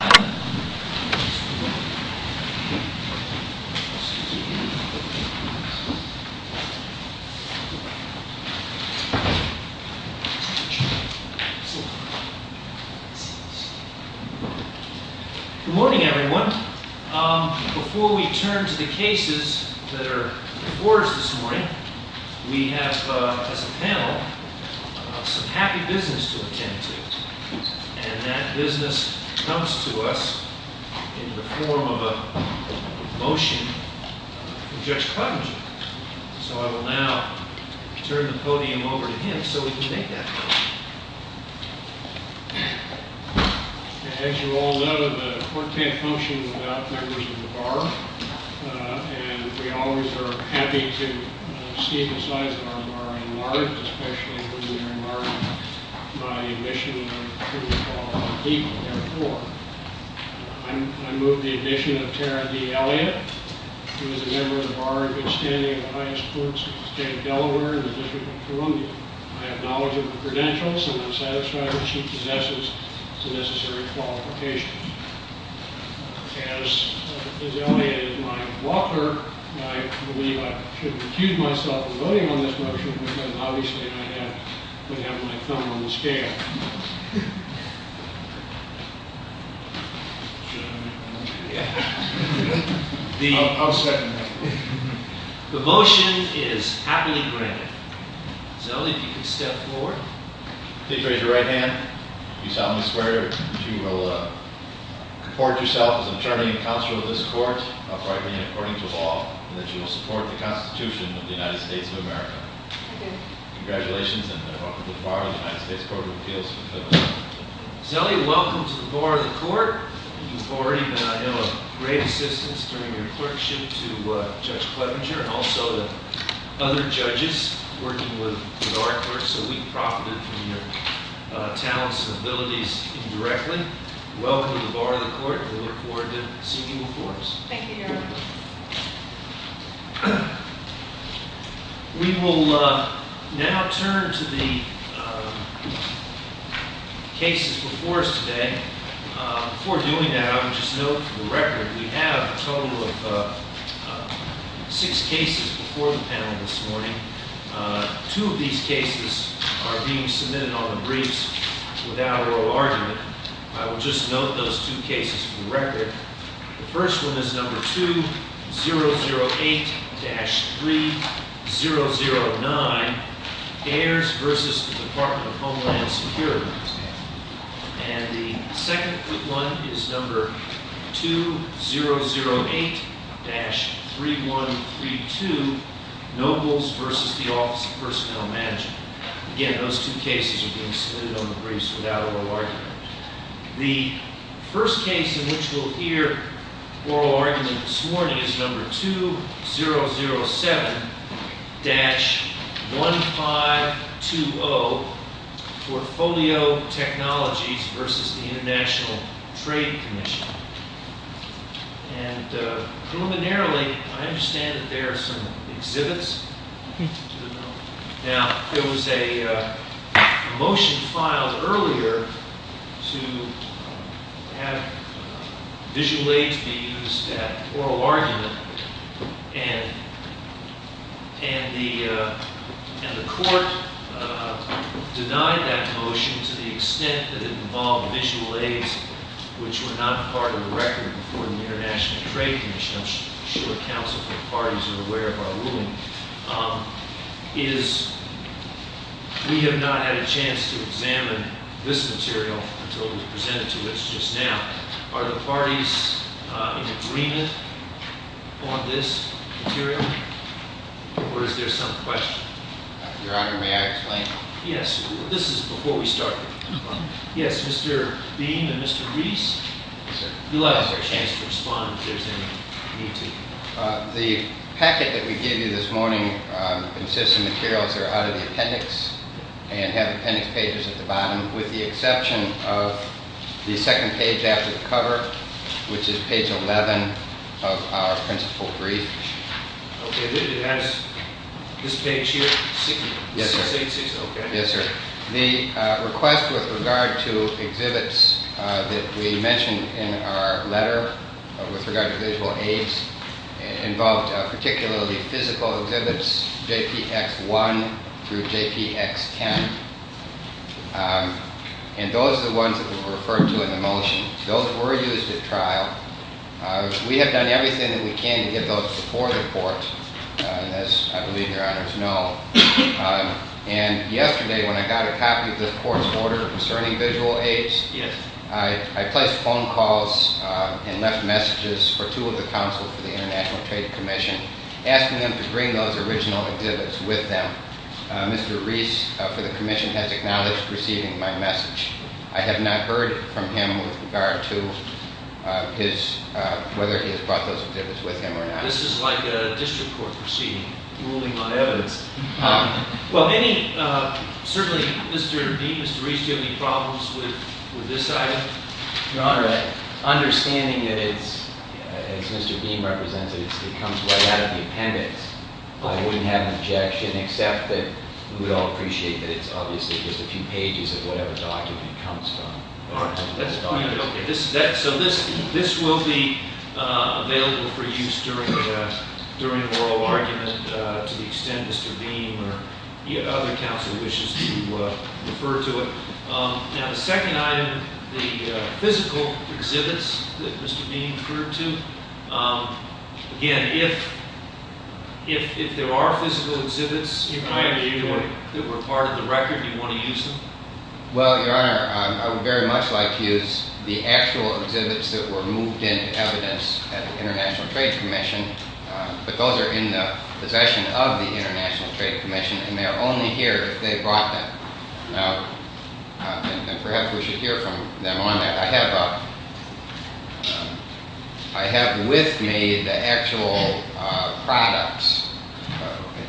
Good morning everyone. Before we turn to the cases that are before us this morning, we have as a panel some happy business to attend to. And that business comes to us in the form of a motion from Judge Cottinger. So I will now turn the podium over to him so we can make that motion. As you all know, the court can't function without members of the bar. And we always are happy to see the size of our bar enlarge, especially when they're enlarged by admission of what we call illegal therefore. I move the admission of Tara D. Elliott, who is a member of the bar in good standing of the highest courts in the state of Delaware and the District of Columbia. I acknowledge her credentials and I'm satisfied that she possesses the necessary qualifications. As Elliott is my walker, I believe I should recuse myself from voting on this motion because obviously I have to have my thumb on the scale. I'll second that. The motion is happily granted. Zoe, if you could step forward. Please raise your right hand. You solemnly swear that you will comport yourself as an attorney and counselor of this court, uprightly and according to law, and that you will support the Constitution of the United States of America. I do. Congratulations and welcome to the bar of the United States Court of Appeals. Zoe, welcome to the bar of the court. You've already been, I know, a great assistance during your clerkship to Judge Clevenger and also to other judges working with our court. So we've profited from your talents and abilities indirectly. Welcome to the bar of the court and we look forward to seeing you in court. Thank you, Your Honor. We will now turn to the cases before us today. Before doing that, I would just note for the record, we have a total of six cases before the panel this morning. Two of these cases are being submitted on the briefs without oral argument. I would just note those two cases for the record. The first one is number 2008-3009, Ayers versus the Department of Homeland Security. And the second one is number 2008-3132, Nobles versus the Office of Personnel Management. Again, those two cases are being submitted on the briefs without oral argument. The first case in which we'll hear oral argument this morning is number 2007-1520, Portfolio Technologies versus the International Trade Commission. And preliminarily, I understand that there are some exhibits. Now, there was a motion filed earlier to have visual aids be used at oral argument. And the court denied that motion to the extent that it involved visual aids, which were not part of the record before the International Trade Commission. I'm sure counsel from parties are aware of our ruling. We have not had a chance to examine this material until it was presented to us just now. Are the parties in agreement on this material? Or is there some question? Your Honor, may I explain? Yes. This is before we start. Yes, Mr. Beam and Mr. Reese. You'll have a chance to respond if there's any need to. The packet that we gave you this morning consists of materials that are out of the appendix and have appendix pages at the bottom, with the exception of the second page after the cover, which is page 11 of our principal brief. Okay. It has this page here? Yes, sir. 686, okay. Yes, sir. The request with regard to exhibits that we mentioned in our letter with regard to visual aids involved particularly physical exhibits, JPX1 through JPX10. And those are the ones that were referred to in the motion. Those were used at trial. We have done everything that we can to get those before the court, as I believe Your Honors know. And yesterday, when I got a copy of this court's order concerning visual aids, I placed phone calls and left messages for two of the counsels for the International Trade Commission, asking them to bring those original exhibits with them. Mr. Reese, for the commission, has acknowledged receiving my message. I have not heard from him with regard to whether he has brought those exhibits with him or not. This is like a district court proceeding, ruling on evidence. Well, certainly, Mr. Dean, Mr. Reese, do you have any problems with this item? Your Honor, understanding that it's, as Mr. Dean represented, it comes right out of the appendix, I wouldn't have an objection except that we would all appreciate that it's obviously just a few pages of whatever document it comes from. All right. So this will be available for use during oral argument to the extent Mr. Dean or other counsel wishes to refer to it. Now, the second item, the physical exhibits that Mr. Dean referred to, again, if there are physical exhibits that were part of the record, do you want to use them? Well, Your Honor, I would very much like to use the actual exhibits that were moved into evidence at the International Trade Commission. But those are in the possession of the International Trade Commission, and they are only here if they brought them. And perhaps we should hear from them on that. I have with me the actual products,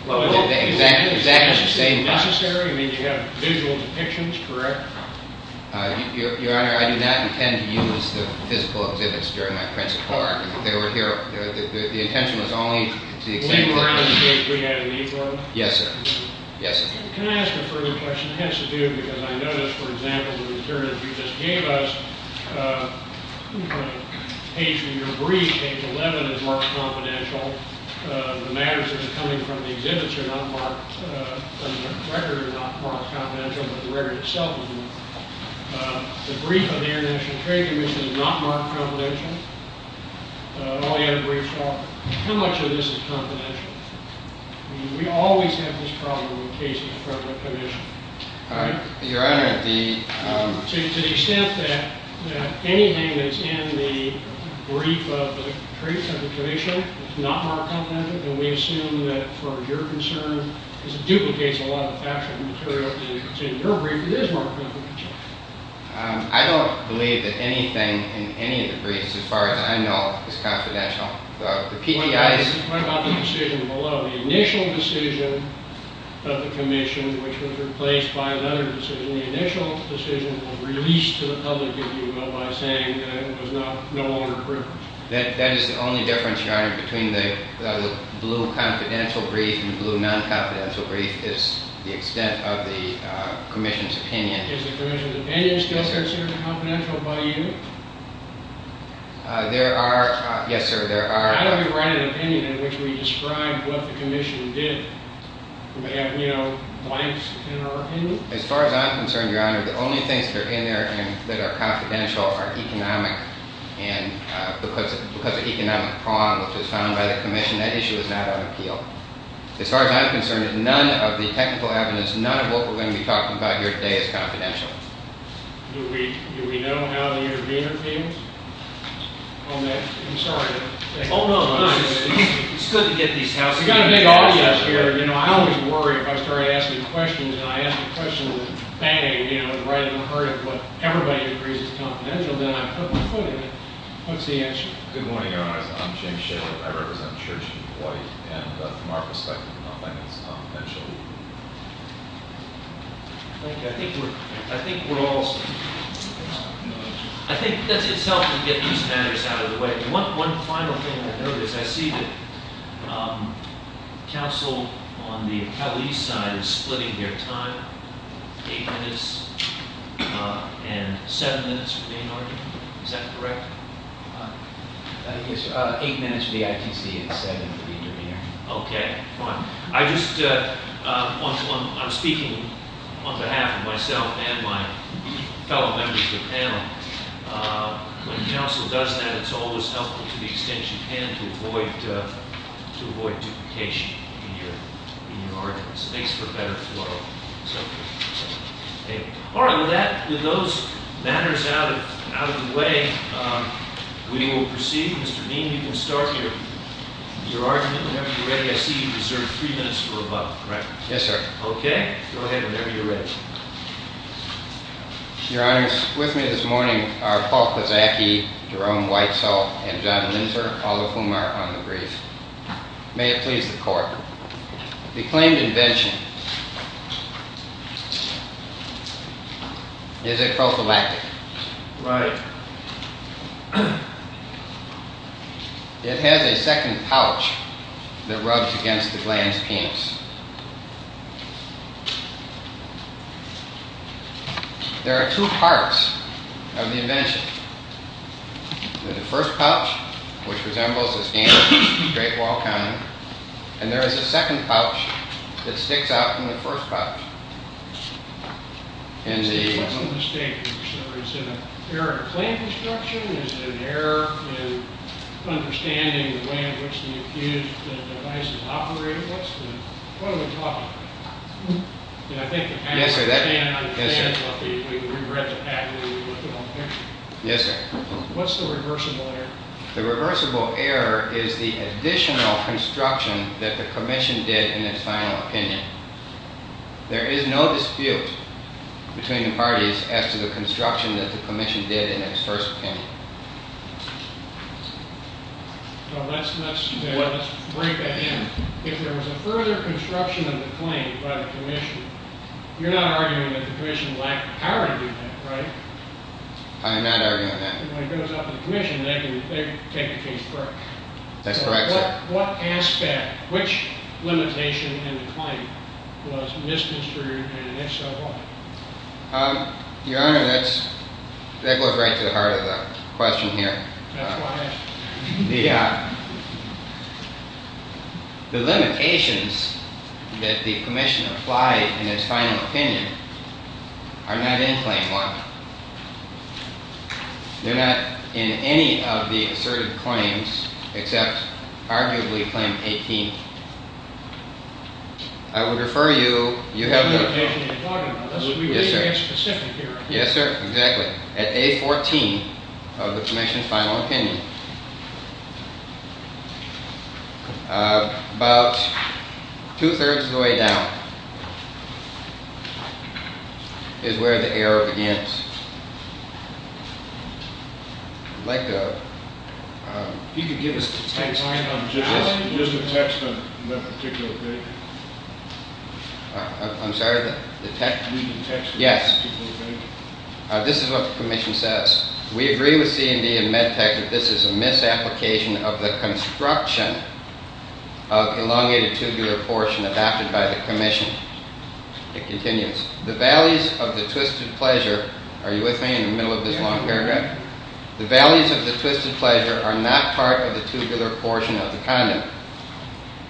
the exact same products. Is that necessary? I mean, you have visual depictions, correct? Your Honor, I do not intend to use the physical exhibits during my principal argument. They were here. The intention was only to the extent that they were. We had a need for them? Yes, sir. Yes, sir. Can I ask a further question? I guess I do, because I noticed, for example, the materials you just gave us, page 11 is marked confidential. The matters that are coming from the exhibits are not marked, the record is not marked confidential, but the record itself is not. The brief of the International Trade Commission is not marked confidential. All the other briefs are. How much of this is confidential? I mean, we always have this problem in the case of the Federal Commission. All right. Your Honor, the... anything that's in the brief of the Commission is not marked confidential, and we assume that for your concern, because it duplicates a lot of the factual material that's in your brief, it is marked confidential. I don't believe that anything in any of the briefs, as far as I know, is confidential. The PGI's... What about the decision below? The initial decision of the Commission, which was replaced by another decision, the initial decision was released to the public, if you will, by saying that it was no longer proven. That is the only difference, Your Honor, between the blue confidential brief and the blue non-confidential brief, is the extent of the Commission's opinion. Is the Commission's opinion still considered confidential by you? There are... yes, sir, there are... Why don't we write an opinion in which we describe what the Commission did? Do we have, you know, blanks in our opinion? As far as I'm concerned, Your Honor, the only things that are in there that are confidential are economic, and because of economic prong, which was found by the Commission, that issue is not on appeal. As far as I'm concerned, none of the technical evidence, none of what we're going to be talking about here today is confidential. Do we know how the intervener feels? Oh, no, I'm sorry. Oh, no, it's good to get these houses. We've got a big audience here. You know, I always worry if I start asking questions and I ask a question that's batty, you know, right in the heart of what everybody agrees is confidential, then I put my foot in it. What's the answer? Good morning, Your Honor. I'm James Shaler. I represent Church and Hawaii, and from our perspective, I don't think it's confidential. Thank you. I think we're all... I think that's itself to get these matters out of the way. One final thing I noticed, I see that counsel on the Hawaii side is splitting their time, eight minutes and seven minutes for the intervener. Is that correct? Yes, sir. Eight minutes for the ITC and seven for the intervener. Okay, fine. I'm speaking on behalf of myself and my fellow members of the panel. When counsel does that, it's always helpful to the extent you can to avoid duplication in your arguments. It makes for a better flow. All right, with those matters out of the way, we will proceed. Mr. Dean, you can start your argument whenever you're ready. I see you reserved three minutes for a vote, correct? Okay, go ahead whenever you're ready. Your Honors, with me this morning are Paul Kozacki, Jerome Whitesell, and John Linser, all of whom are on the brief. May it please the Court. The claimed invention is a prophylactic. Right. It has a second pouch that rubs against the gland's penis. There are two parts of the invention. There's the first pouch, which resembles a standard straight wall condom, and there is a second pouch that sticks out from the first pouch. I see one mistake here, sir. Is it an error in claim construction? Is it an error in understanding the way in which the device is operated? What are we talking about? Yes, sir. Yes, sir. What's the reversible error? The reversible error is the additional construction that the Commission did in its final opinion. There is no dispute between the parties as to the construction that the Commission did in its first opinion. Let's break that in. If there was a further construction of the claim by the Commission, you're not arguing that the Commission lacked the power to do that, right? I am not arguing that. When it goes up to the Commission, they can take the case for it. That's correct, sir. What aspect, which limitation in the claim was misconstrued, and if so, why? Your Honor, that goes right to the heart of the question here. That's why I asked. Yeah. The limitations that the Commission applied in its final opinion are not in Claim 1. They're not in any of the asserted claims except, arguably, Claim 18. I would refer you, you have the… The limitation you're talking about… Yes, sir. …would be very specific here. Yes, sir, exactly. At A14 of the Commission's final opinion. About two-thirds of the way down is where the error begins. I'd like to… If you could give us the text line on… Just the text on that particular page. I'm sorry, the text… Read the text on that particular page. Yes. This is what the Commission says. We agree with C&D and MedTech that this is a misapplication of the construction of elongated tubular portion adopted by the Commission. It continues. The valleys of the twisted pleasure… Are you with me in the middle of this long paragraph? The valleys of the twisted pleasure are not part of the tubular portion of the condom.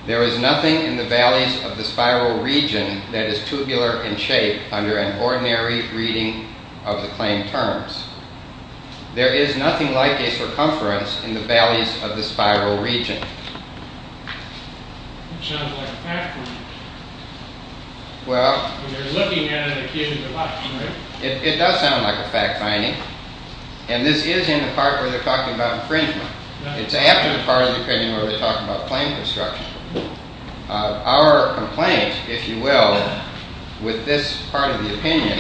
There is nothing in the valleys of the spiral region that is tubular in shape under an ordinary reading of the claim terms. There is nothing like a circumference in the valleys of the spiral region. It sounds like a fact finding. Well… You're looking at it as a case of deduction, right? It does sound like a fact finding. And this is in the part where they're talking about infringement. It's after the part of the opinion where they're talking about claim construction. Our complaint, if you will, with this part of the opinion,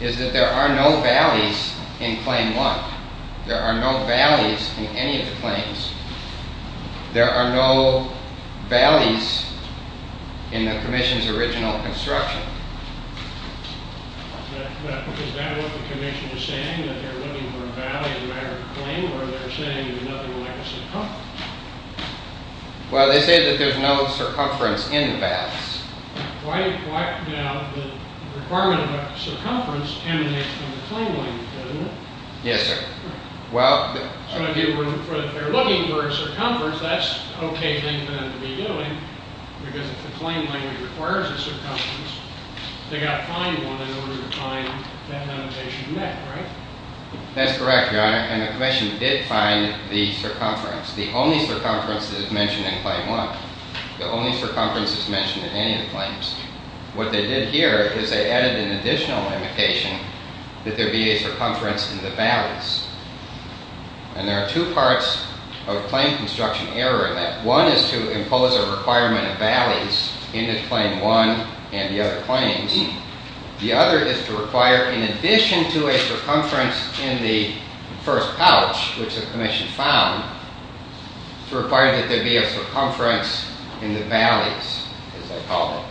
is that there are no valleys in Claim 1. There are no valleys in any of the claims. There are no valleys in the Commission's original construction. Is that what the Commission is saying? That they're looking for a valley in the matter of a claim? Or they're saying there's nothing like a circumference? Well, they say that there's no circumference in the valleys. Why, you know, the requirement of a circumference emanates from the claim language, doesn't it? Yes, sir. So if they're looking for a circumference, that's an okay thing for them to be doing. Because if the claim language requires a circumference, they've got to find one in order to find that limitation met, right? That's correct, Your Honor. And the Commission did find the circumference. The only circumference that is mentioned in Claim 1. The only circumference that's mentioned in any of the claims. What they did here is they added an additional limitation that there be a circumference in the valleys. And there are two parts of a claim construction error in that. One is to impose a requirement of valleys in Claim 1 and the other claims. The other is to require, in addition to a circumference in the first pouch, which the Commission found, to require that there be a circumference in the valleys, as they call it.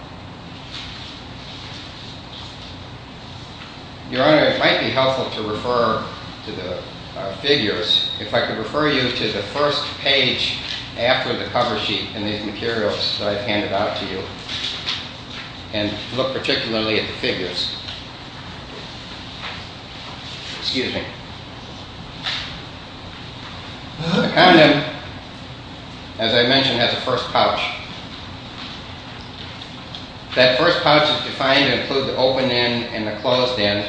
Your Honor, it might be helpful to refer to the figures, if I could refer you to the first page after the cover sheet in these materials that I've handed out to you. And look particularly at the figures. Excuse me. The condom, as I mentioned, has a first pouch. That first pouch is defined to include the open end and the closed end,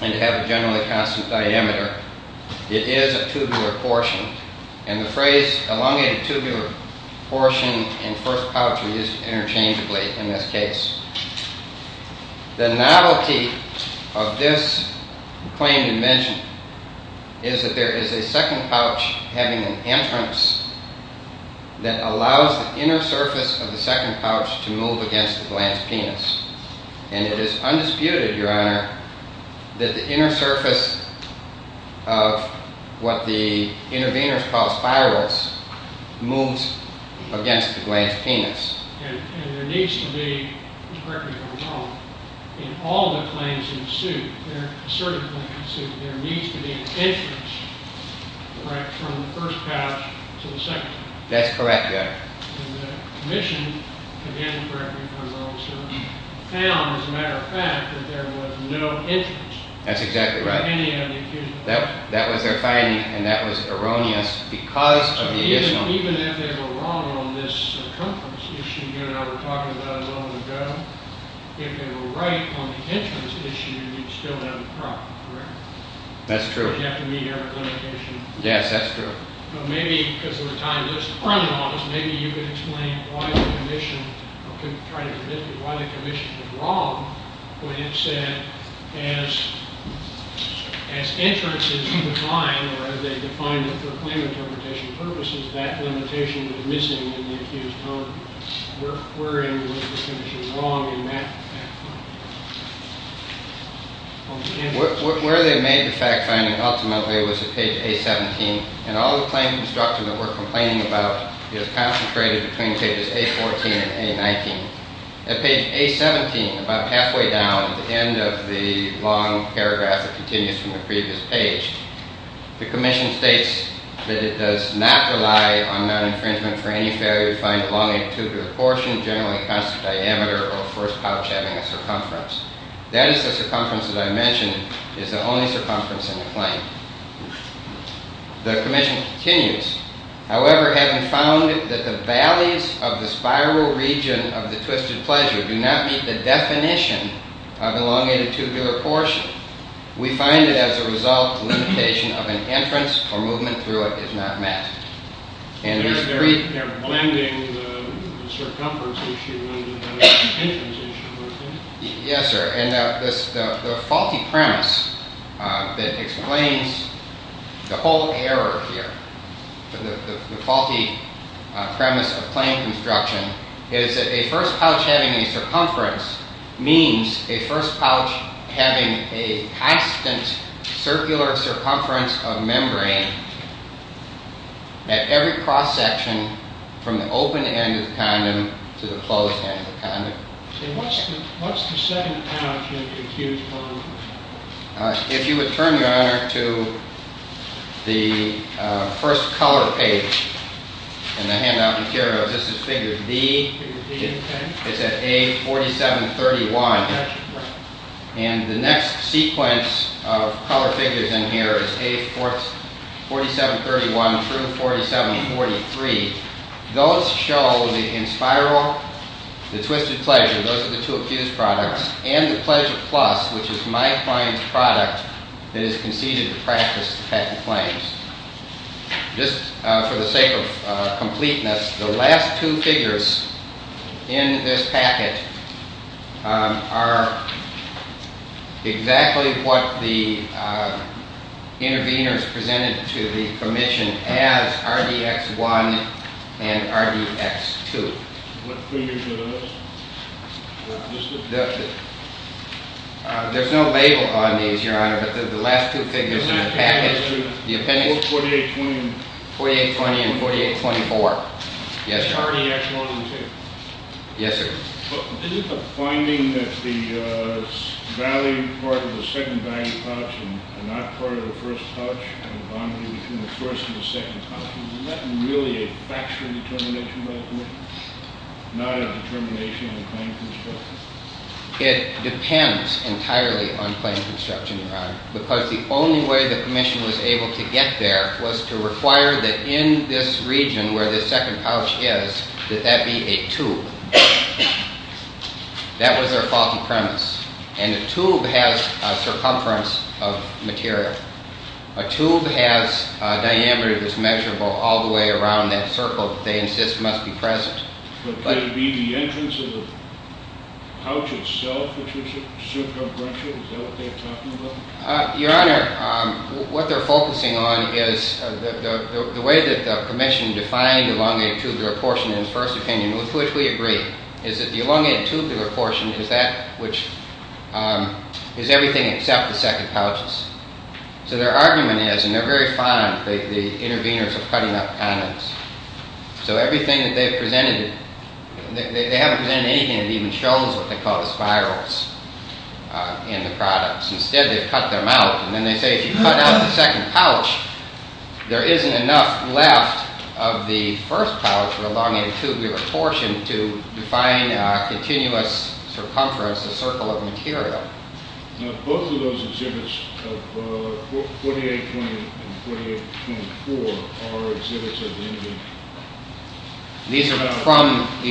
and to have a generally constant diameter. It is a tubular portion. And the phrase elongated tubular portion and first pouch are used interchangeably in this case. The novelty of this claim dimension is that there is a second pouch having an entrance that allows the inner surface of the second pouch to move against the glance penis. And it is undisputed, Your Honor, that the inner surface of what the interveners call spirals moves against the glance penis. And there needs to be, correct me if I'm wrong, in all the claims in suit, there are certain claims in suit, there needs to be an entrance from the first pouch to the second. That's correct, Your Honor. And the commission, again, correct me if I'm wrong, sir, found, as a matter of fact, that there was no entrance. That's exactly right. For any of the accused. That was their finding, and that was erroneous because of the issue. Even if they were wrong on this circumference issue, Your Honor, we were talking about a moment ago, if they were right on the entrance issue, you'd still have a problem, correct? That's true. You'd have to meet every limitation. Yes, that's true. But maybe, because of the time, maybe you could explain why the commission, or try to convince me why the commission was wrong when it said, as entrance is defined, or as they defined it for claim interpretation purposes, that limitation was missing in the accused home. Where in was the commission wrong in that? Where they made the fact finding, ultimately, was at page A-17, and all the claim construction that we're complaining about is concentrated between pages A-14 and A-19. At page A-17, about halfway down, at the end of the long paragraph that continues from the previous page, the commission states that it does not rely on non-infringement for any failure to find elongated tubular portion, generally constant diameter, or first pouch having a circumference. That is the circumference that I mentioned is the only circumference in the claim. The commission continues, however, having found that the valleys of the spiral region of the twisted pleasure do not meet the definition of elongated tubular portion, we find that as a result, limitation of an entrance or movement through it is not met. They're blending the circumference issue and the limitations issue, aren't they? Yes, sir, and the faulty premise that explains the whole error here, the faulty premise of claim construction, is that a first pouch having a circumference means a first pouch having a constant circular circumference of membrane at every cross-section from the open end of the condom to the closed end of the condom. So what's the second pouch that you're accused of? If you would turn, Your Honor, to the first color page in the handout material, this is figure D, it's at A4731, and the next sequence of color figures in here is A4731 through 4743. Those show, in spiral, the twisted pleasure, those are the two accused products, and the pleasure plus, which is my client's product that is conceded to practice patent claims. Just for the sake of completeness, the last two figures in this packet are exactly what the intervenors presented to the Commission as RDX1 and RDX2. What figures are those? There's no label on these, Your Honor, but the last two figures in the packet, 4820 and 4824, yes, sir. RDX1 and RDX2? Yes, sir. Isn't the finding that the value part of the second value pouch and not part of the first pouch and bonding between the first and the second pouch, isn't that really a factual determination by the Commission, not a determination in the claim construction? It depends entirely on claim construction, Your Honor, because the only way the Commission was able to get there was to require that in this region where the second pouch is, that that be a tube. That was their faulty premise, and a tube has a circumference of material. A tube has a diameter that's measurable all the way around that circle that they insist must be present. But could it be the entrance of the pouch itself which is circumferential? Is that what they're talking about? Your Honor, what they're focusing on is the way that the Commission defined the elongated tubular portion in the first opinion, with which we agree, is that the elongated tubular portion is that which is everything except the second pouches. So their argument is, and they're very fond, the intervenors are cutting up on us. So everything that they've presented, they haven't presented anything that even shows what they call the spirals in the products. Instead, they've cut them out. And then they say if you cut out the second pouch, there isn't enough left of the first pouch or elongated tubular portion to define a continuous circumference, a circle of material. Now both of those exhibits of 4820 and 4824 are exhibits of the intervenor. These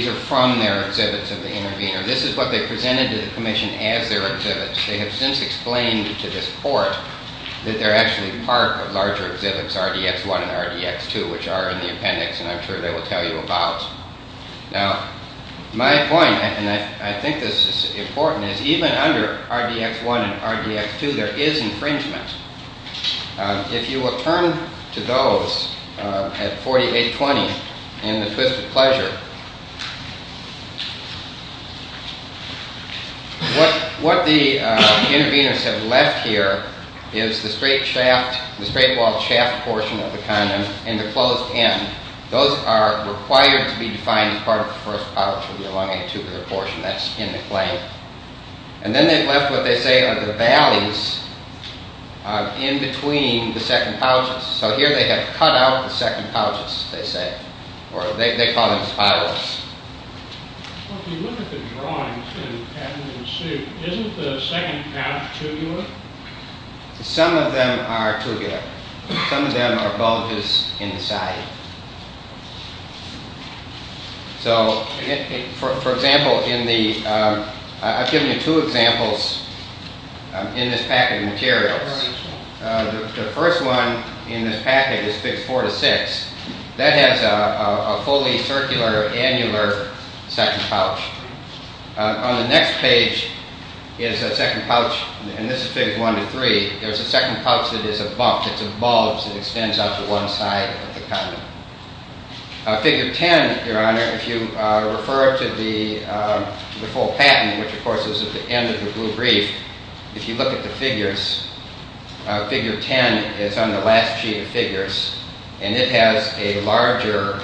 are from their exhibits of the intervenor. This is what they presented to the Commission as their exhibits. They have since explained to this court that they're actually part of larger exhibits, RDX1 and RDX2, which are in the appendix, and I'm sure they will tell you about. Now, my point, and I think this is important, is even under RDX1 and RDX2, there is infringement. If you will turn to those at 4820 in the Twisted Pleasure, what the intervenors have left here is the straight walled shaft portion of the condom and the closed end. Those are required to be defined as part of the first pouch or elongated tubular portion. That's in the claim. And then they've left what they say are the valleys in between the second pouches. So here they have cut out the second pouches, they say. Or they call them spirals. Some of them are tubular. Some of them are bulges in the side. For example, I've given you two examples in this packet of materials. The first one in this packet is Figures 4 to 6. That has a fully circular, annular second pouch. On the next page is a second pouch, and this is Figures 1 to 3, there's a second pouch that is a bump, it's a bulge that extends out to one side of the condom. Figure 10, Your Honor, if you refer to the full patent, which of course is at the end of the blue brief, if you look at the figures, Figure 10 is on the last sheet of figures, and it has a larger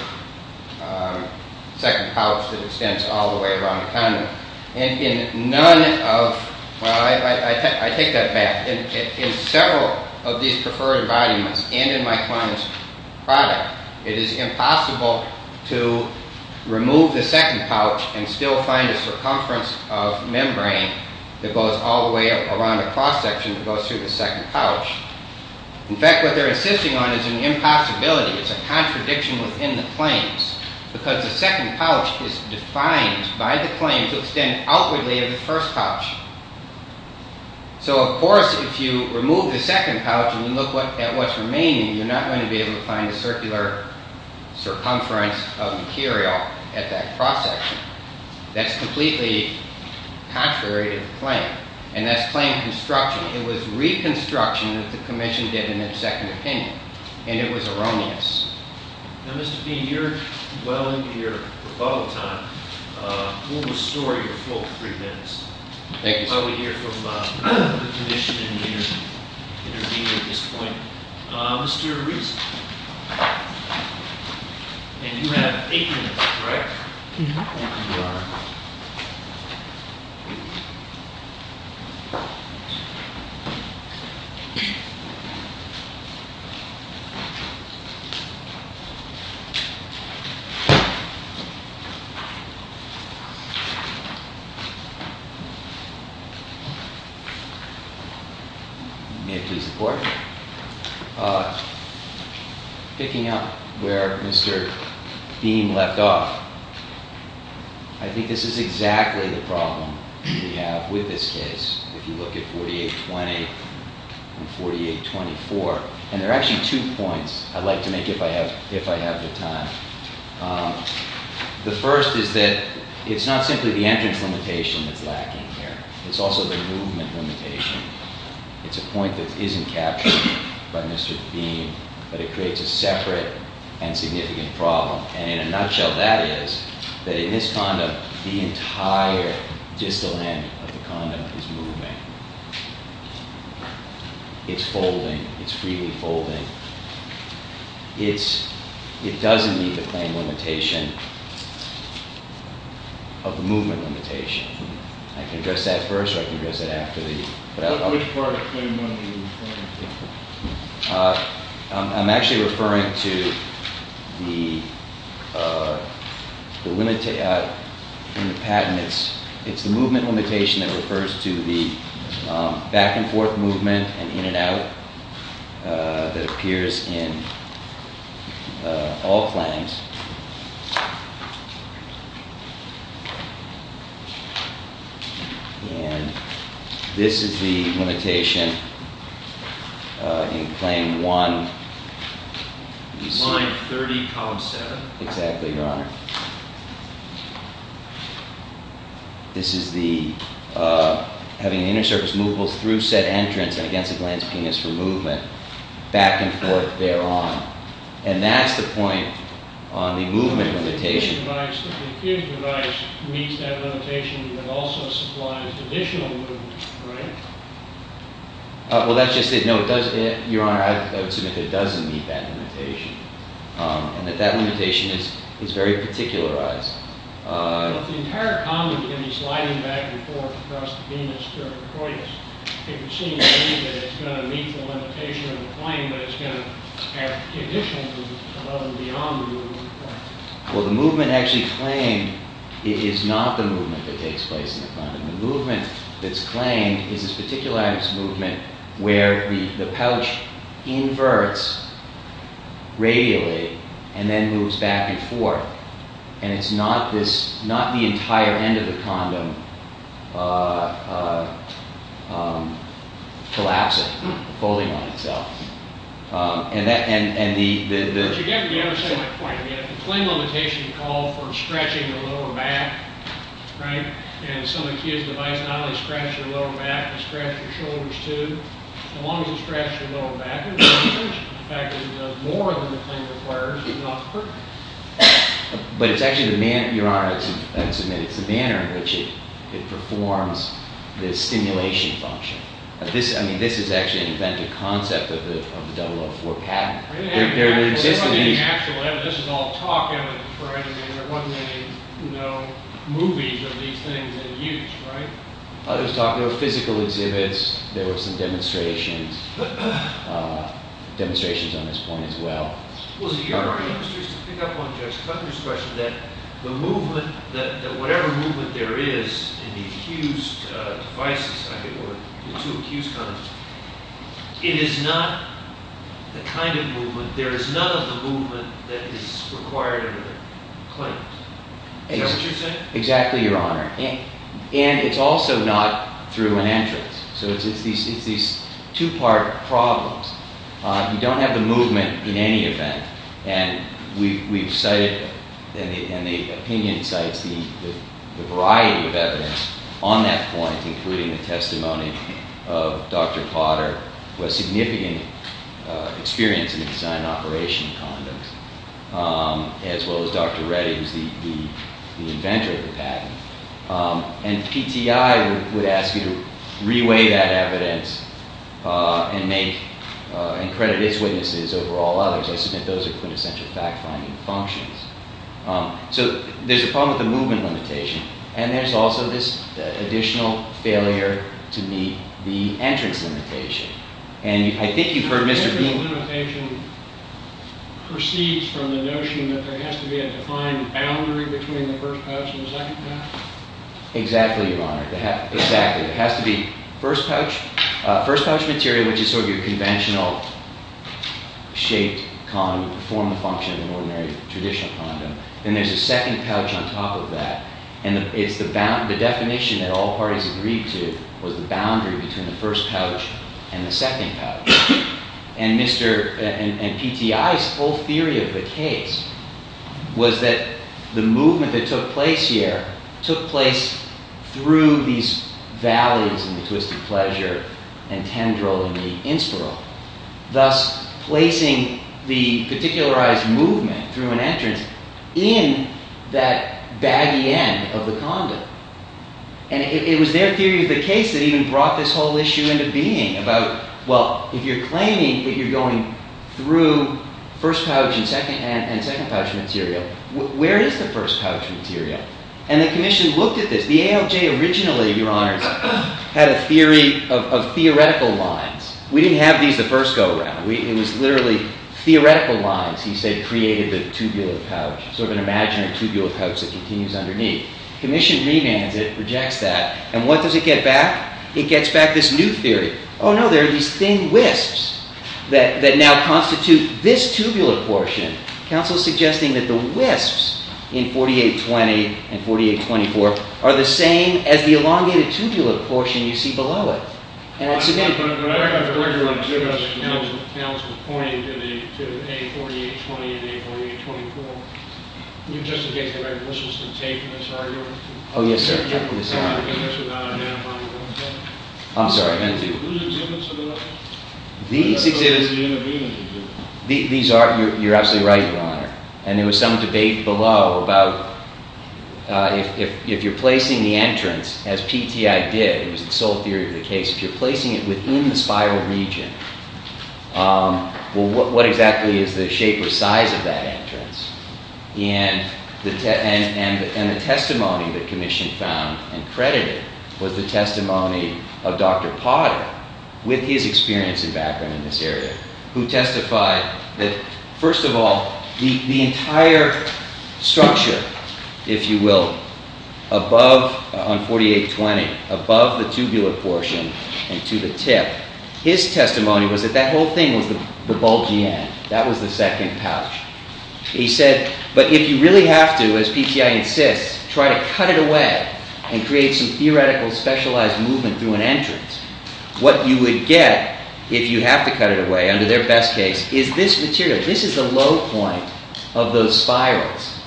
second pouch that extends all the way around the condom. And in none of, well, I take that back, in several of these preferred embodiments, and in my client's product, it is impossible to remove the second pouch and still find a circumference of membrane that goes all the way around the cross-section that goes through the second pouch. In fact, what they're insisting on is an impossibility, it's a contradiction within the claims, because the second pouch is defined by the claim to extend outwardly of the first pouch. So, of course, if you remove the second pouch and you look at what's remaining, you're not going to be able to find a circular circumference of material at that cross-section. That's completely contrary to the claim, and that's claim construction. It was reconstruction that the Commission did in its second opinion, and it was erroneous. Now, Mr. Bean, you're well into your rebuttal time. We'll restore your full three minutes. Thank you, sir. While we hear from the Commission and intervene at this point, Mr. Reese. And you have eight minutes, correct? Mm-hm. Thank you, Your Honor. May I please report? Picking up where Mr. Bean left off, I think this is exactly the problem we have with this case, if you look at 4820 and 4824. And there are actually two points. I'd like to make if I have the time. The first is that it's not simply the entrance limitation that's lacking here. It's also the movement limitation. It's a point that isn't captured by Mr. Bean, but it creates a separate and significant problem. And in a nutshell, that is that in this condom, the entire distal end of the condom is moving. It's folding. It's freely folding. It doesn't meet the claim limitation of the movement limitation. I can address that first, or I can address that after. Which part of claim one do you refer to? I'm actually referring to the movement limitation that refers to the back-and-forth movement and in-and-out that appears in all claims. And this is the limitation in claim one. Line 30, column 7. Exactly, Your Honor. This is having the inner surface movable through said entrance and against the gland's penis for movement, back-and-forth, thereon. And that's the point on the movement limitation. But if the kid's device meets that limitation, it also supplies additional movement, right? Well, that's just it. No, Your Honor, I would submit that it doesn't meet that limitation. And that that limitation is very particularized. But if the entire condom can be sliding back-and-forth across the penis through a cortex, it would seem to me that it's going to meet the limitation of the claim, but it's going to have additional movement above and beyond the movement claim. Well, the movement actually claimed is not the movement that takes place in the condom. The movement that's claimed is this particularized movement where the pouch inverts radially and then moves back-and-forth. And it's not the entire end of the condom collapsing, folding on itself. But you get to the other side of the point. The claim limitation called for stretching the lower back, right? And some of the kids' devices not only stretch their lower back, they stretch their shoulders, too. As long as it stretches your lower back, it stretches. In fact, it does more than the claim requires. It's not perfect. But it's actually the manner, Your Honor, I would submit, it's the manner in which it performs this stimulation function. I mean, this is actually an inventive concept of the 004 patent. This is all talk evidence, right? I mean, there wasn't any movies of these things in use, right? There were physical exhibits. There were some demonstrations. Demonstrations on this point, as well. Well, so Your Honor, I'm just curious to pick up on Judge Cutler's question that the movement, that whatever movement there is in the accused devices, or the two accused condoms, it is not the kind of movement, there is none of the movement that is required in the claims. Is that what you're saying? Exactly, Your Honor. And it's also not through an entrance. So it's these two-part problems. You don't have the movement in any event. And we've cited, and the opinion cites the variety of evidence on that point, including the testimony of Dr. Potter, who has significant experience in the design and operation of condoms, as well as Dr. Reddy, who's the inventor of the patent. And PTI would ask you to reweigh that evidence and credit its witnesses over all others. I submit those are quintessential fact-finding functions. So there's a problem with the movement limitation, and there's also this additional failure to meet the entrance limitation. And I think you've heard Mr. Bean... The entrance limitation proceeds from the notion that there has to be a defined boundary between the first pouch and the second pouch? Exactly, Your Honor. Exactly. It has to be first pouch material, which is sort of your conventional-shaped condom to perform the function of an ordinary traditional condom. Then there's a second pouch on top of that. And the definition that all parties agreed to was the boundary between the first pouch and the second pouch. And PTI's whole theory of the case was that the movement that took place here took place through these valleys in the twisted pleasure and tendril in the inspiral. Thus, placing the particularized movement through an entrance in that baggy end of the condom. And it was their theory of the case that even brought this whole issue into being about, well, if you're claiming that you're going through first pouch and second pouch material, where is the first pouch material? And the Commission looked at this. The ALJ originally, Your Honors, had a theory of theoretical lines. We didn't have these the first go-round. It was literally theoretical lines, he said, that created the tubular pouch. Sort of an imaginary tubular pouch that continues underneath. Commission remands it, rejects that. And what does it get back? It gets back this new theory. Oh no, there are these thin wisps that now constitute this tubular portion. Counsel is suggesting that the wisps in 4820 and 4824 are the same as the elongated tubular portion you see below it. But I have a question on two of those. Counsel pointed to A4820 and A4824. You're just against the recognition of the tape in this argument? Oh, yes, sir. Whose exhibits are those? These exhibits... These are, you're absolutely right, Your Honor. And there was some debate below about if you're placing the entrance, as PTI did, it was the sole theory of the case, if you're placing it within the spiral region, well, what exactly is the shape or size of that entrance? And the testimony that Commission found and credited was the testimony of Dr. Potter, with his experience and background in this area, who testified that, first of all, the entire structure, if you will, above, on 4820, above the tubular portion and to the tip, his testimony was that that whole thing was the bulging end. That was the second pouch. He said, but if you really have to, as PTI insists, try to cut it away and create some theoretical specialized movement through an entrance, what you would get, if you have to cut it away, under their best case, is this material. This is the low point of those spirals.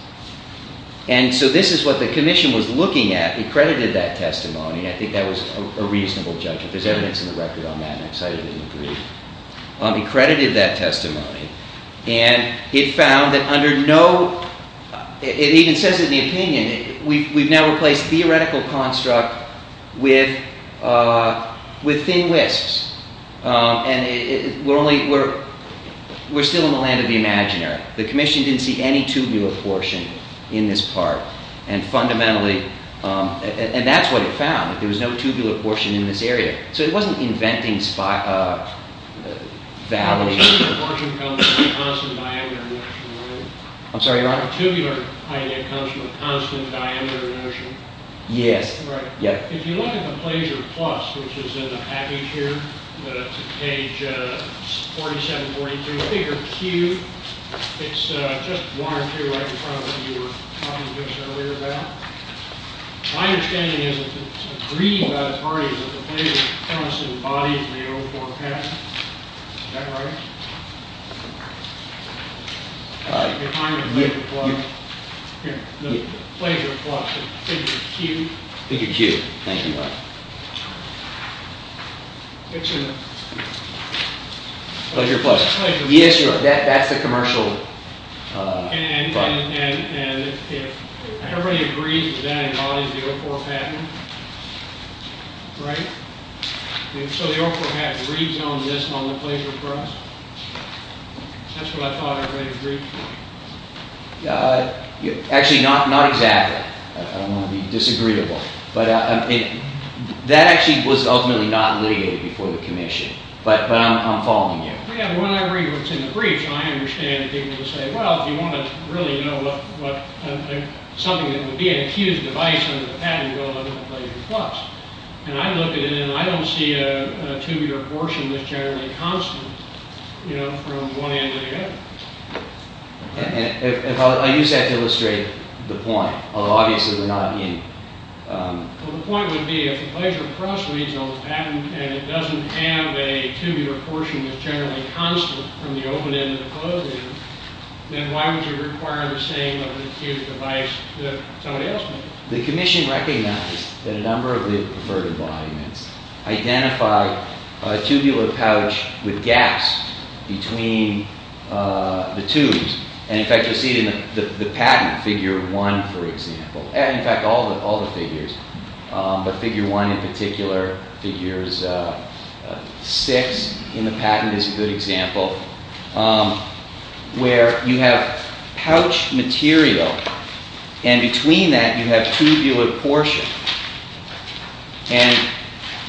And so this is what the Commission was looking at. It credited that testimony, and I think that was a reasonable judgment. There's evidence in the record on that, and I'm excited to read. It credited that testimony, and it found that under no, it even says it in the opinion, we've now replaced theoretical construct with thin whisks. And we're still in the land of the imaginary. The Commission didn't see any tubular portion in this part, and fundamentally, and that's what it found, that there was no tubular portion in this area. So it wasn't inventing values. The tubular portion comes from a constant diameter motion, right? I'm sorry, your honor? The tubular idea comes from a constant diameter motion. Yes. If you look at the placer plus, which is in the package here, page 4742, figure Q, it's just one or two right in front of what you were talking just earlier about. My understanding is that it's agreed by the parties that the placer comes embodied in the O4 path. Is that right? Your honor, the placer plus. Here, the placer plus of figure Q. Figure Q. Thank you, your honor. It's an... It's a placer plus. Yes, your honor, that's the commercial part. And if everybody agrees that that embodies the O4 pattern, right? So the O4 pattern reads on this on the placer plus? That's what I thought everybody agreed to. Actually, not exactly. I don't want to be disagreeable. That actually was ultimately not litigated before the commission. But I'm following you. Yeah, when I read what's in the brief, I understand people who say, well, if you want to really know what... something that would be an accused device under the pattern, well, look at the placer plus. And I look at it and I don't see a tubular portion that's generally constant, you know, from one end to the other. I use that to illustrate the point. Obviously, we're not in... Well, the point would be if the placer plus reads on the pattern and it doesn't have a tubular portion that's generally constant from the open end to the closed end, then why would you require the same of an acute device that somebody else made? The commission recognized that a number of the preferred embodiments identify a tubular pouch with gaps between the tubes. And in fact, you'll see it in the patent, figure one, for example. In fact, all the figures. But figure one in particular, figures six in the patent is a good example, where you have pouch material and between that you have tubular portion. And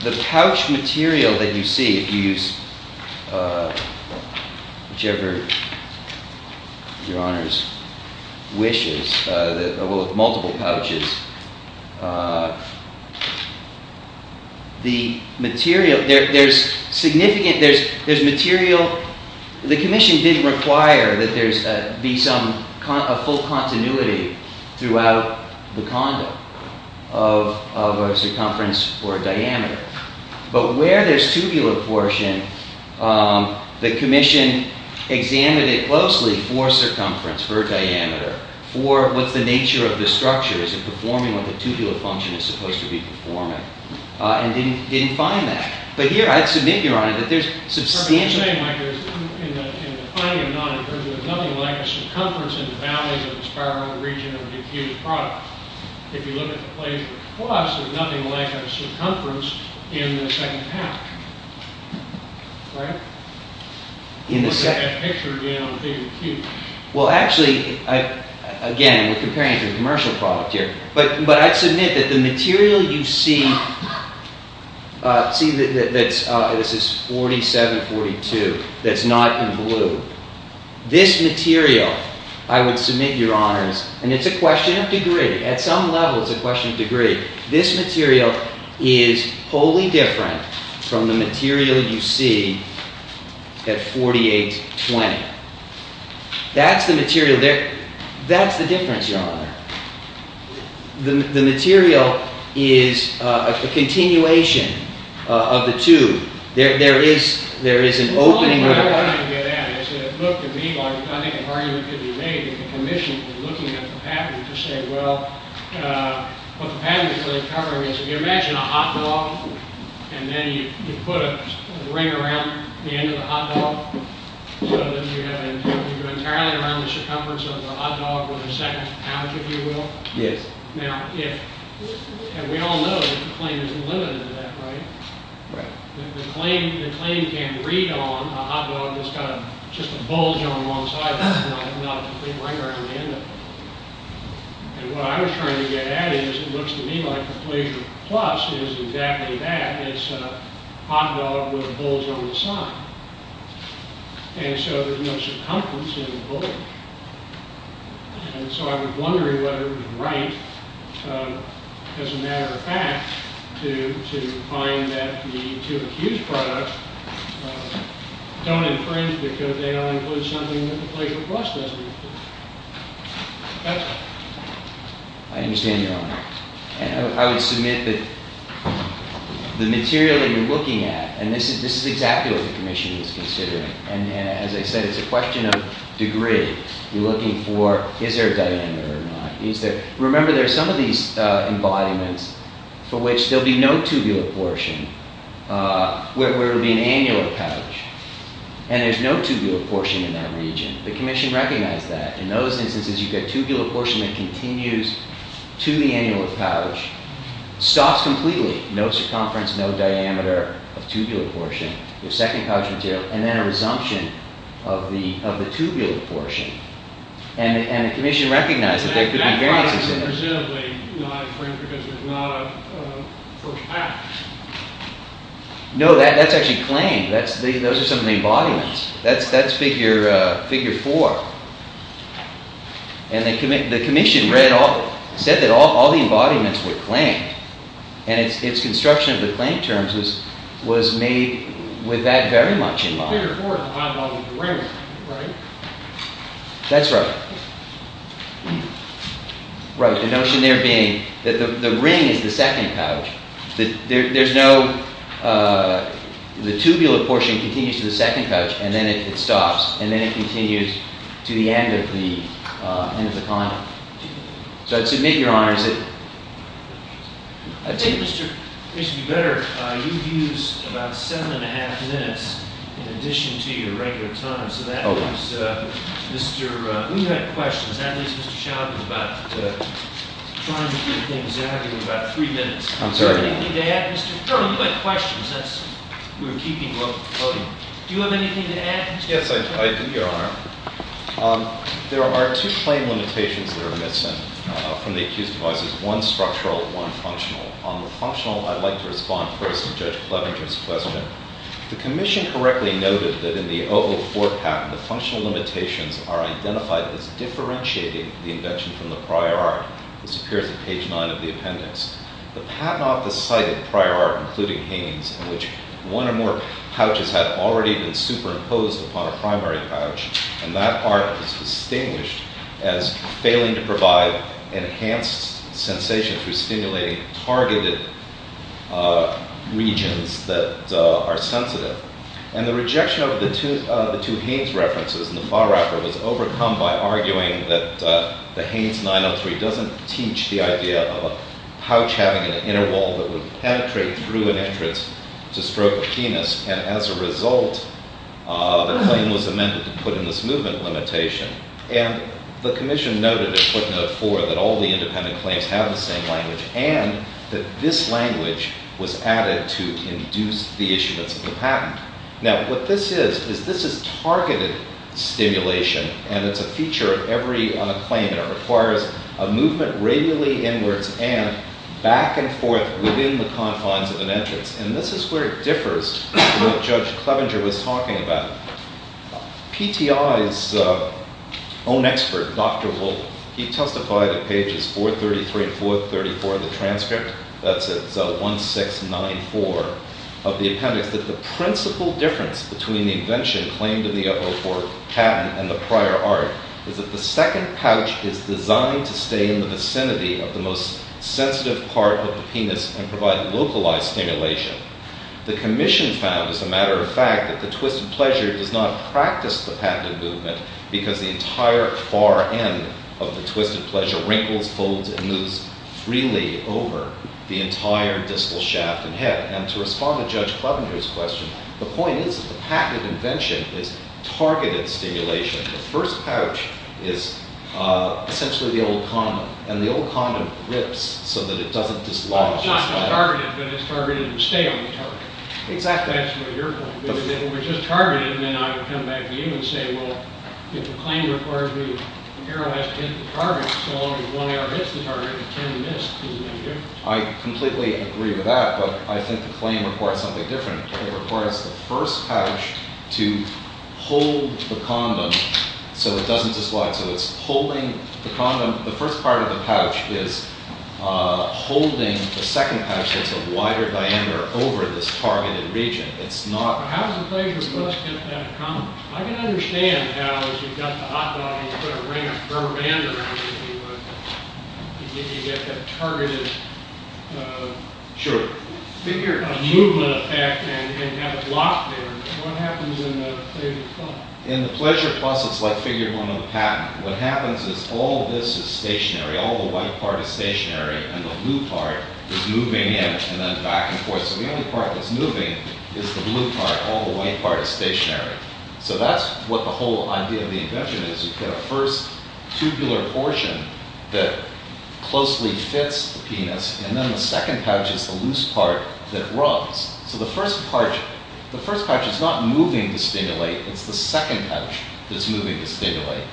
the pouch material that you see, if you use whichever your honors wishes, multiple pouches, the material, there's significant, there's material... The commission didn't require that there be some full continuity throughout the condom of a circumference or a diameter. But where there's tubular portion, the commission examined it closely for circumference, for diameter, for what's the nature of the structure, is it performing what the tubular function is supposed to be performing, and didn't find that. But here, I'd submit, Your Honor, that there's substantial... What I'm trying to say, Mike, is in the finding or not, there's nothing like a circumference in the boundaries of a spiral region of an acute product. If you look at the placer plus, there's nothing like a circumference in the second pouch. Right? In the second... You can look at that picture again on figure two. Well, actually, again, we're comparing it to a commercial product here, but I'd submit that the material you see, see that this is 4742, that's not in blue, this material, I would submit, Your Honors, this material is wholly different from the material you see at 4820. That's the material there. That's the difference, Your Honor. The material is a continuation of the tube. There is an opening... I think an argument could be made in the commission in looking at the pattern to say, well, what the pattern is really covering is, if you imagine a hot dog, and then you put a ring around the end of the hot dog so that you go entirely around the circumference of the hot dog with the second pouch, if you will. Yes. Now, if... And we all know that the claim isn't limited to that, right? Right. The claim can read on a hot dog that's got just a bulge on one side and not a complete ring around the end of it. And what I was trying to get at is, it looks to me like the Pleasure Plus is exactly that. It's a hot dog with a bulge on the side. And so there's no circumference in the bulge. And so I was wondering whether it was right, as a matter of fact, to find that the two accused products don't infringe because they don't include something that the Pleasure Plus doesn't include. That's all. I understand, Your Honor. And I would submit that the material that you're looking at, and this is exactly what the commission is considering, and as I said, it's a question of degree. You're looking for, is there a diameter or not? Remember, there are some of these embodiments for which there'll be no tubular portion, where it would be an annular pouch, and there's no tubular portion in that region. The commission recognized that. In those instances, you get tubular portion that continues to the annular pouch, stops completely, no circumference, no diameter of tubular portion, your second pouch material, and then a resumption of the tubular portion. And the commission recognized that there could be variances in it. That product is presumably not infringed because it's not a first pouch. No, that's actually claimed. Those are some of the embodiments. That's figure four. And the commission said that all the embodiments were claimed, and its construction of the claim terms was made with that very much in mind. Figure four is the embodiment of the ring, right? That's right. Right, the notion there being that the ring is the second pouch. There's no, the tubular portion continues to the second pouch, and then it stops, and then it continues to the end of the condom. So I'd submit, Your Honor, that... It would be better if you used about seven and a half minutes in addition to your regular time. So that means, Mr. We had questions. At least Mr. Sheldon was about trying to get things out of you in about three minutes. I'm sorry. Do you have anything to add, Mr. You had questions. That's, you were keeping well before voting. Do you have anything to add, Mr. Yes, I do, Your Honor. There are two claim limitations that are missing from the accused devices, one structural, one functional. On the functional, I'd like to respond first to Judge Clevenger's question. The commission correctly noted that in the Oval IV patent, the functional limitations are identified as differentiating the invention from the prior art. This appears at page nine of the appendix. The patent office cited prior art, including Haines, in which one or more pouches had already been superimposed upon a primary pouch, and that art is distinguished as failing to provide enhanced sensation through stimulating targeted regions that are sensitive. And the rejection of the two Haines references in the file record was overcome by arguing that the Haines 903 doesn't teach the idea of a pouch having an inner wall that would penetrate through an entrance to stroke a limitation. And the commission noted in footnote four that all the independent claims have the same language, and that this language was added to induce the issuance of the patent. Now, what this is, is this is targeted stimulation, and it's a feature of every claim, and it requires a movement radially inwards and back and forth within the confines of an entrance. And this is where it differs from what Judge Clevenger was talking about. PTI's own expert, Dr. Wolfe, he testified at pages 433 and 434 of the transcript, that's at 1694 of the appendix, that the principal difference between the invention claimed in the 004 patent and the prior art is that the second pouch is designed to stay in the vicinity of the most sensitive part of the penis and provide localized stimulation. The commission found, as a matter of fact, that the twisted pleasure does not practice the patented movement because the entire far end of the twisted pleasure wrinkles, folds and moves freely over the entire distal shaft and head. And to respond to Judge Clevenger's question, the point is that the patented invention is targeted stimulation. The first pouch is essentially the old condom, and the old condom rips so that it doesn't dislodge. It's not targeted, but it's targeted to stay on the target. Exactly. That's what you're going to do. If it was just targeted, then I would come back to you and say, well, if the claim requires me, the girl has to hit the target. So as long as one arrow hits the target, it can't be missed. I completely agree with that, but I think the claim requires something different. It requires the first pouch to hold the condom so it doesn't dislodge. So it's holding the condom. The first part of the pouch is holding the second pouch that's a wider diameter over this targeted region. How does the pleasure bus get that condom? I can understand how, if you've got the hot dog and you put a rubber band around it, you get that targeted movement effect and have it locked there, but what happens in the pleasure bus? In the pleasure bus, it's like figuring one on the patent. What happens is all this is stationary. All the white part is stationary, and the blue part is moving in and then back and forth. So the only part that's moving is the blue part. All the white part is stationary. So that's what the whole idea of the invention is. You put a first tubular portion that closely fits the penis, and then the second pouch is the loose part that rubs. So the first pouch is not moving to stimulate. It's the second pouch that's moving to stimulate.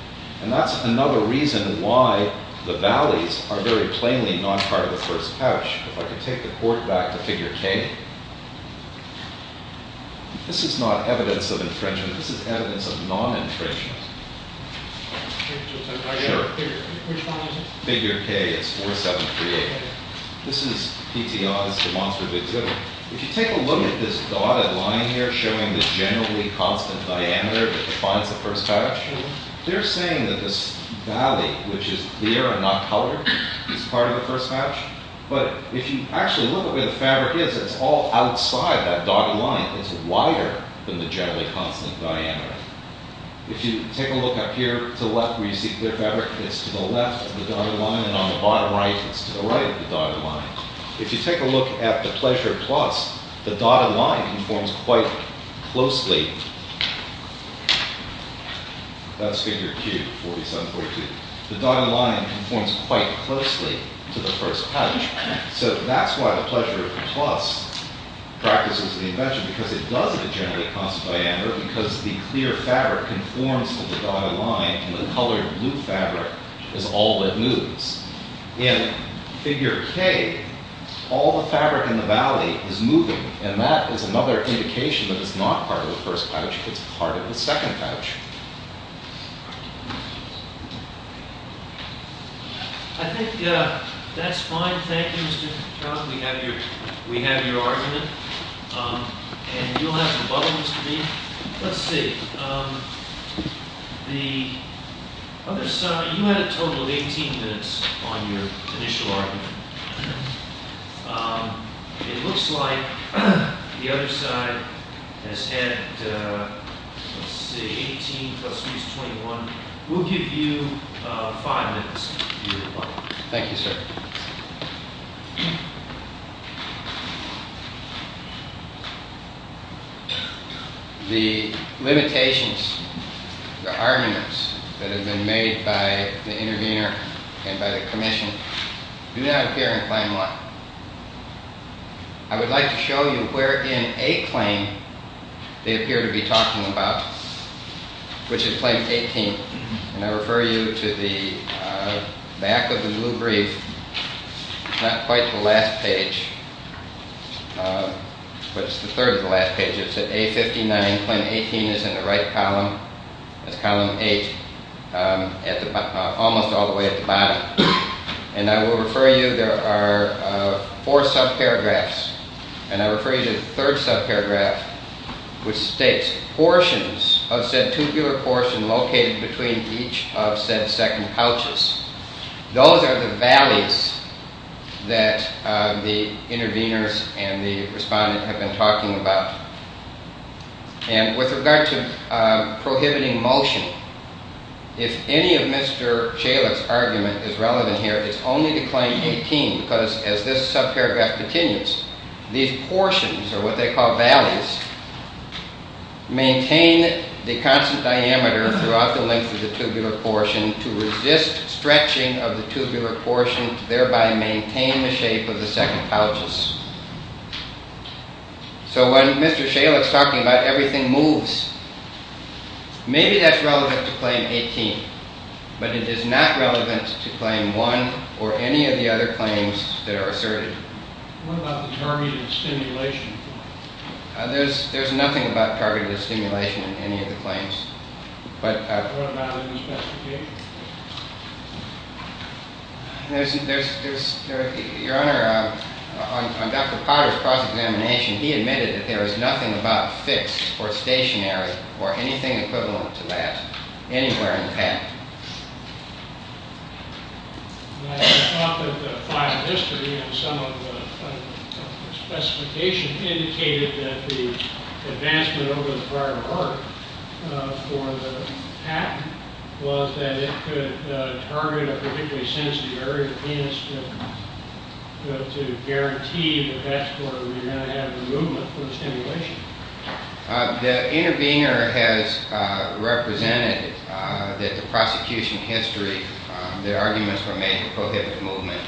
And that's another reason why the valleys are very plainly not part of the first pouch. If I could take the court back to figure K. This is not evidence of infringement. This is evidence of non-infringement. Sure. Figure K is 4-7-3-8. This is P.T. Oz's demonstrative exhibit. If you take a look at this dotted line here showing the generally constant diameter that defines the first pouch, they're saying that this valley, which is clear and not colored, is part of the first pouch. But if you actually look at where the fabric is, it's all outside that dotted line. It's wider than the generally constant diameter. If you take a look up here to the left where you see clear fabric, it's to the left of the dotted line, and on the bottom right, it's to the right of the dotted line. If you take a look at the pleasure plus, the dotted line informs quite closely That's figure Q, 4-7-4-2. The dotted line informs quite closely to the first pouch. So that's why the pleasure plus practices the invention, because it does have a generally constant diameter because the clear fabric informs to the dotted line, and the colored blue fabric is all that moves. In figure K, all the fabric in the valley is moving, and that is another indication that it's not part of the first pouch. It's part of the second pouch. I think that's fine. Thank you, Mr. Trout. We have your argument. And you'll have some other ones to read. Let's see. The other side, you had a total of 18 minutes on your initial argument. It looks like the other side has had, let's see, 18 plus 21. We'll give you five minutes. Thank you, sir. The limitations, the arguments that have been made by the intervener and by the commission do not appear in Claim 1. I would like to show you where in A claim they appear to be talking about, which is Claim 18. And I refer you to the back of the blue brief. It's not quite the last page, but it's the third to the last page. It's at A-59, Claim 18 is in the right column. It's column 8, almost all the way at the bottom. And I will refer you, there are four subparagraphs, and I refer you to the third subparagraph, which states portions of said tubular portion located between each of said second pouches. Those are the valleys that the interveners and the respondent have been talking about. And with regard to prohibiting motion, if any of Mr. Chalit's argument is relevant here, it's only to Claim 18, because as this subparagraph continues, these portions, or what they call valleys, maintain the constant diameter throughout the length of the tubular portion to resist stretching of the tubular portion, thereby maintaining the shape of the second pouches. So when Mr. Chalit's talking about everything moves, maybe that's relevant to Claim 18, but it is not relevant to Claim 1 or any of the other claims that are asserted. What about the targeted stimulation? There's nothing about targeted stimulation in any of the claims. What about in the specifications? Your Honor, on Dr. Potter's cross-examination, he admitted that there is nothing about fixed or stationary or anything equivalent to that anywhere in the patent. I thought that the file of history and some of the specification indicated that the advancement over the prior work for the patent was that it could target a particularly sensitive area of the penis to guarantee that that's where we're going to have the movement for the stimulation. The intervener has represented that the prosecution history, their arguments were made to prohibit movement.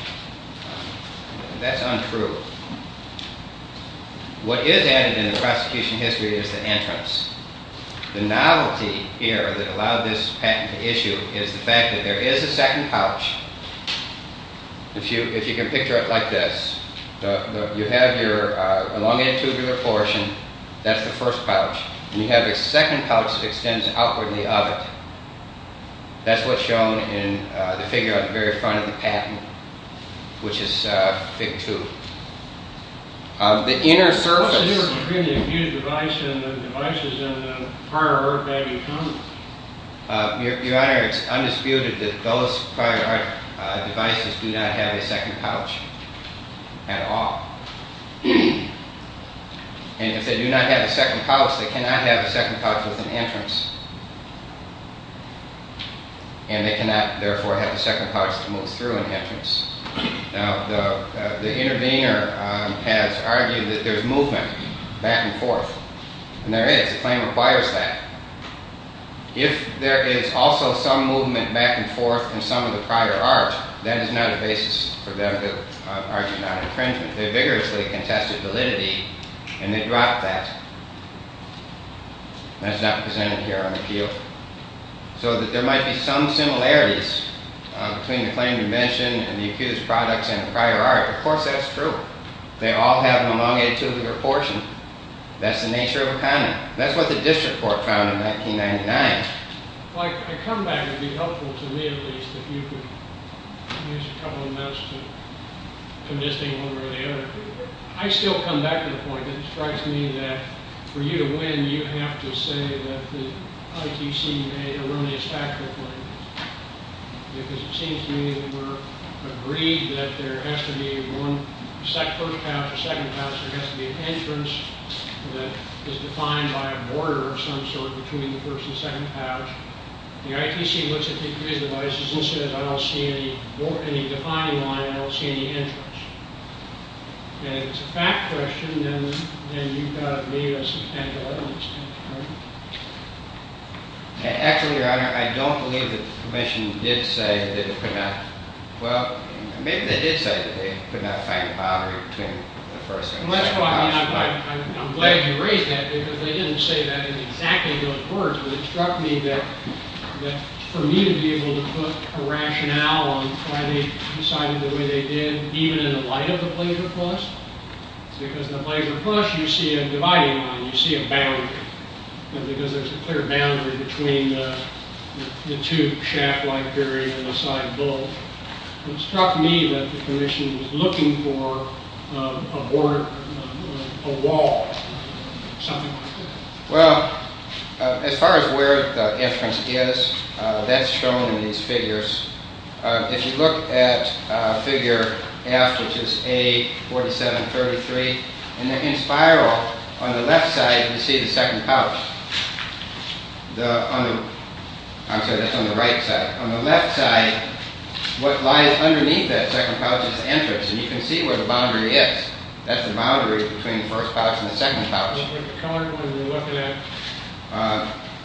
That's untrue. What is added in the prosecution history is the entrance. The novelty here that allowed this patent to issue is the fact that there is a second pouch. If you can picture it like this, you have your elongated tubular portion. That's the first pouch. And you have a second pouch that extends outward in the oven. That's what's shown in the figure on the very front of the patent, which is Fig 2. The inner surface... Your Honor, it's undisputed that those prior art devices do not have a second pouch at all. And if they do not have a second pouch, they cannot have a second pouch with an entrance. And they cannot, therefore, have a second pouch to move through an entrance. Now, the intervener has argued that there's movement back and forth. And there is. The claim requires that. If there is also some movement back and forth in some of the prior art, that is not a basis for them to argue non-infringement. They vigorously contested validity, and they dropped that. That's not presented here on the appeal. So there might be some similarities between the claim you mentioned and the accused's products and the prior art. Of course, that's true. They all have an elongated tubular portion. That's the nature of a comment. That's what the District Court found in 1999. If I come back, it would be helpful to me, at least, if you could give us a couple of minutes to... to listing one way or the other. I still come back to the point that it strikes me that for you to win, you have to say that the IPC may eliminate stack replacements. Because it seems to me that we're agreed that there has to be one... that is defined by a border of some sort between the first and second pouch. The IPC looks at these devices and says, I don't see any defining line, I don't see any entrance. And if it's a fact question, then you've got to... Actually, Your Honor, I don't believe that the Commission did say that it could not... Well, maybe they did say that they could not find a boundary between the first and second pouch. That's why I'm glad you raised that, because they didn't say that in exactly those words. But it struck me that for me to be able to put a rationale on why they decided the way they did, even in the light of the Blazer Plus, because in the Blazer Plus, you see a dividing line, you see a boundary, because there's a clear boundary between the two shaft-like areas on the side of both. It struck me that the Commission was looking for a border, a wall, something like that. Well, as far as where the entrance is, that's shown in these figures. If you look at figure F, which is A4733, in spiral, on the left side, you see the second pouch. I'm sorry, that's on the right side. On the left side, what lies underneath that second pouch is the entrance, and you can see where the boundary is. That's the boundary between the first pouch and the second pouch. The colored one you're looking at?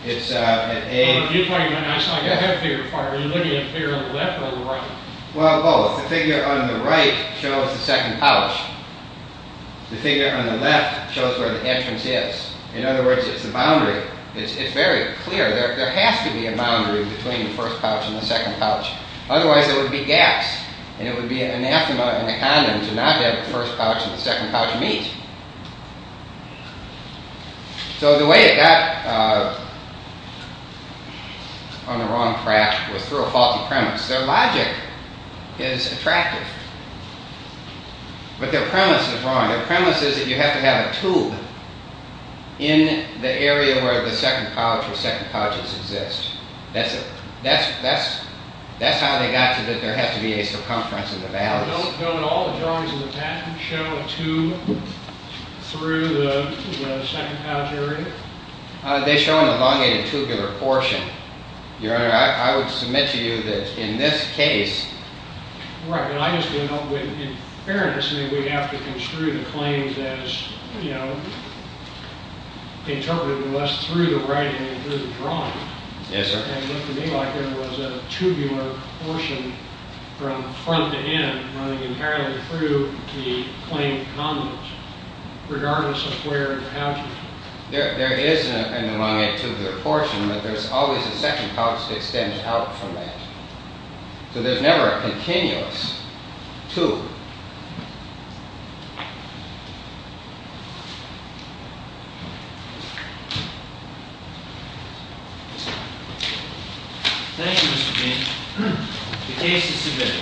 It's at A... If you point at that, it's not your head figure. Are you looking at the figure on the left or the right? Well, both. The figure on the right shows the second pouch. The figure on the left shows where the entrance is. In other words, it's the boundary. It's very clear. There has to be a boundary between the first pouch and the second pouch. Otherwise, there would be gaps, and it would be anathema and a condom to not have the first pouch and the second pouch meet. So the way it got... on the wrong track was through a faulty premise. Their logic is attractive. But their premise is wrong. Their premise is that you have to have a tube in the area where the second pouch or second pouches exist. That's how they got to that there has to be a circumference in the valleys. Don't all the drawings in the patent show a tube through the second pouch area? They show an elongated tubular portion. Your Honor, I would submit to you that in this case... Right, but I just came up with... In fairness, we'd have to construe the claims as, you know, interpreted less through the writing than through the drawing. Yes, sir. And it looked to me like there was a tubular portion from front to end, running entirely through the claimed condoms, regardless of where the pouch is. There is an elongated tubular portion, but there's always a second pouch to extend out from that. So there's never a continuous tube. Thank you, Mr. King. The case is submitted.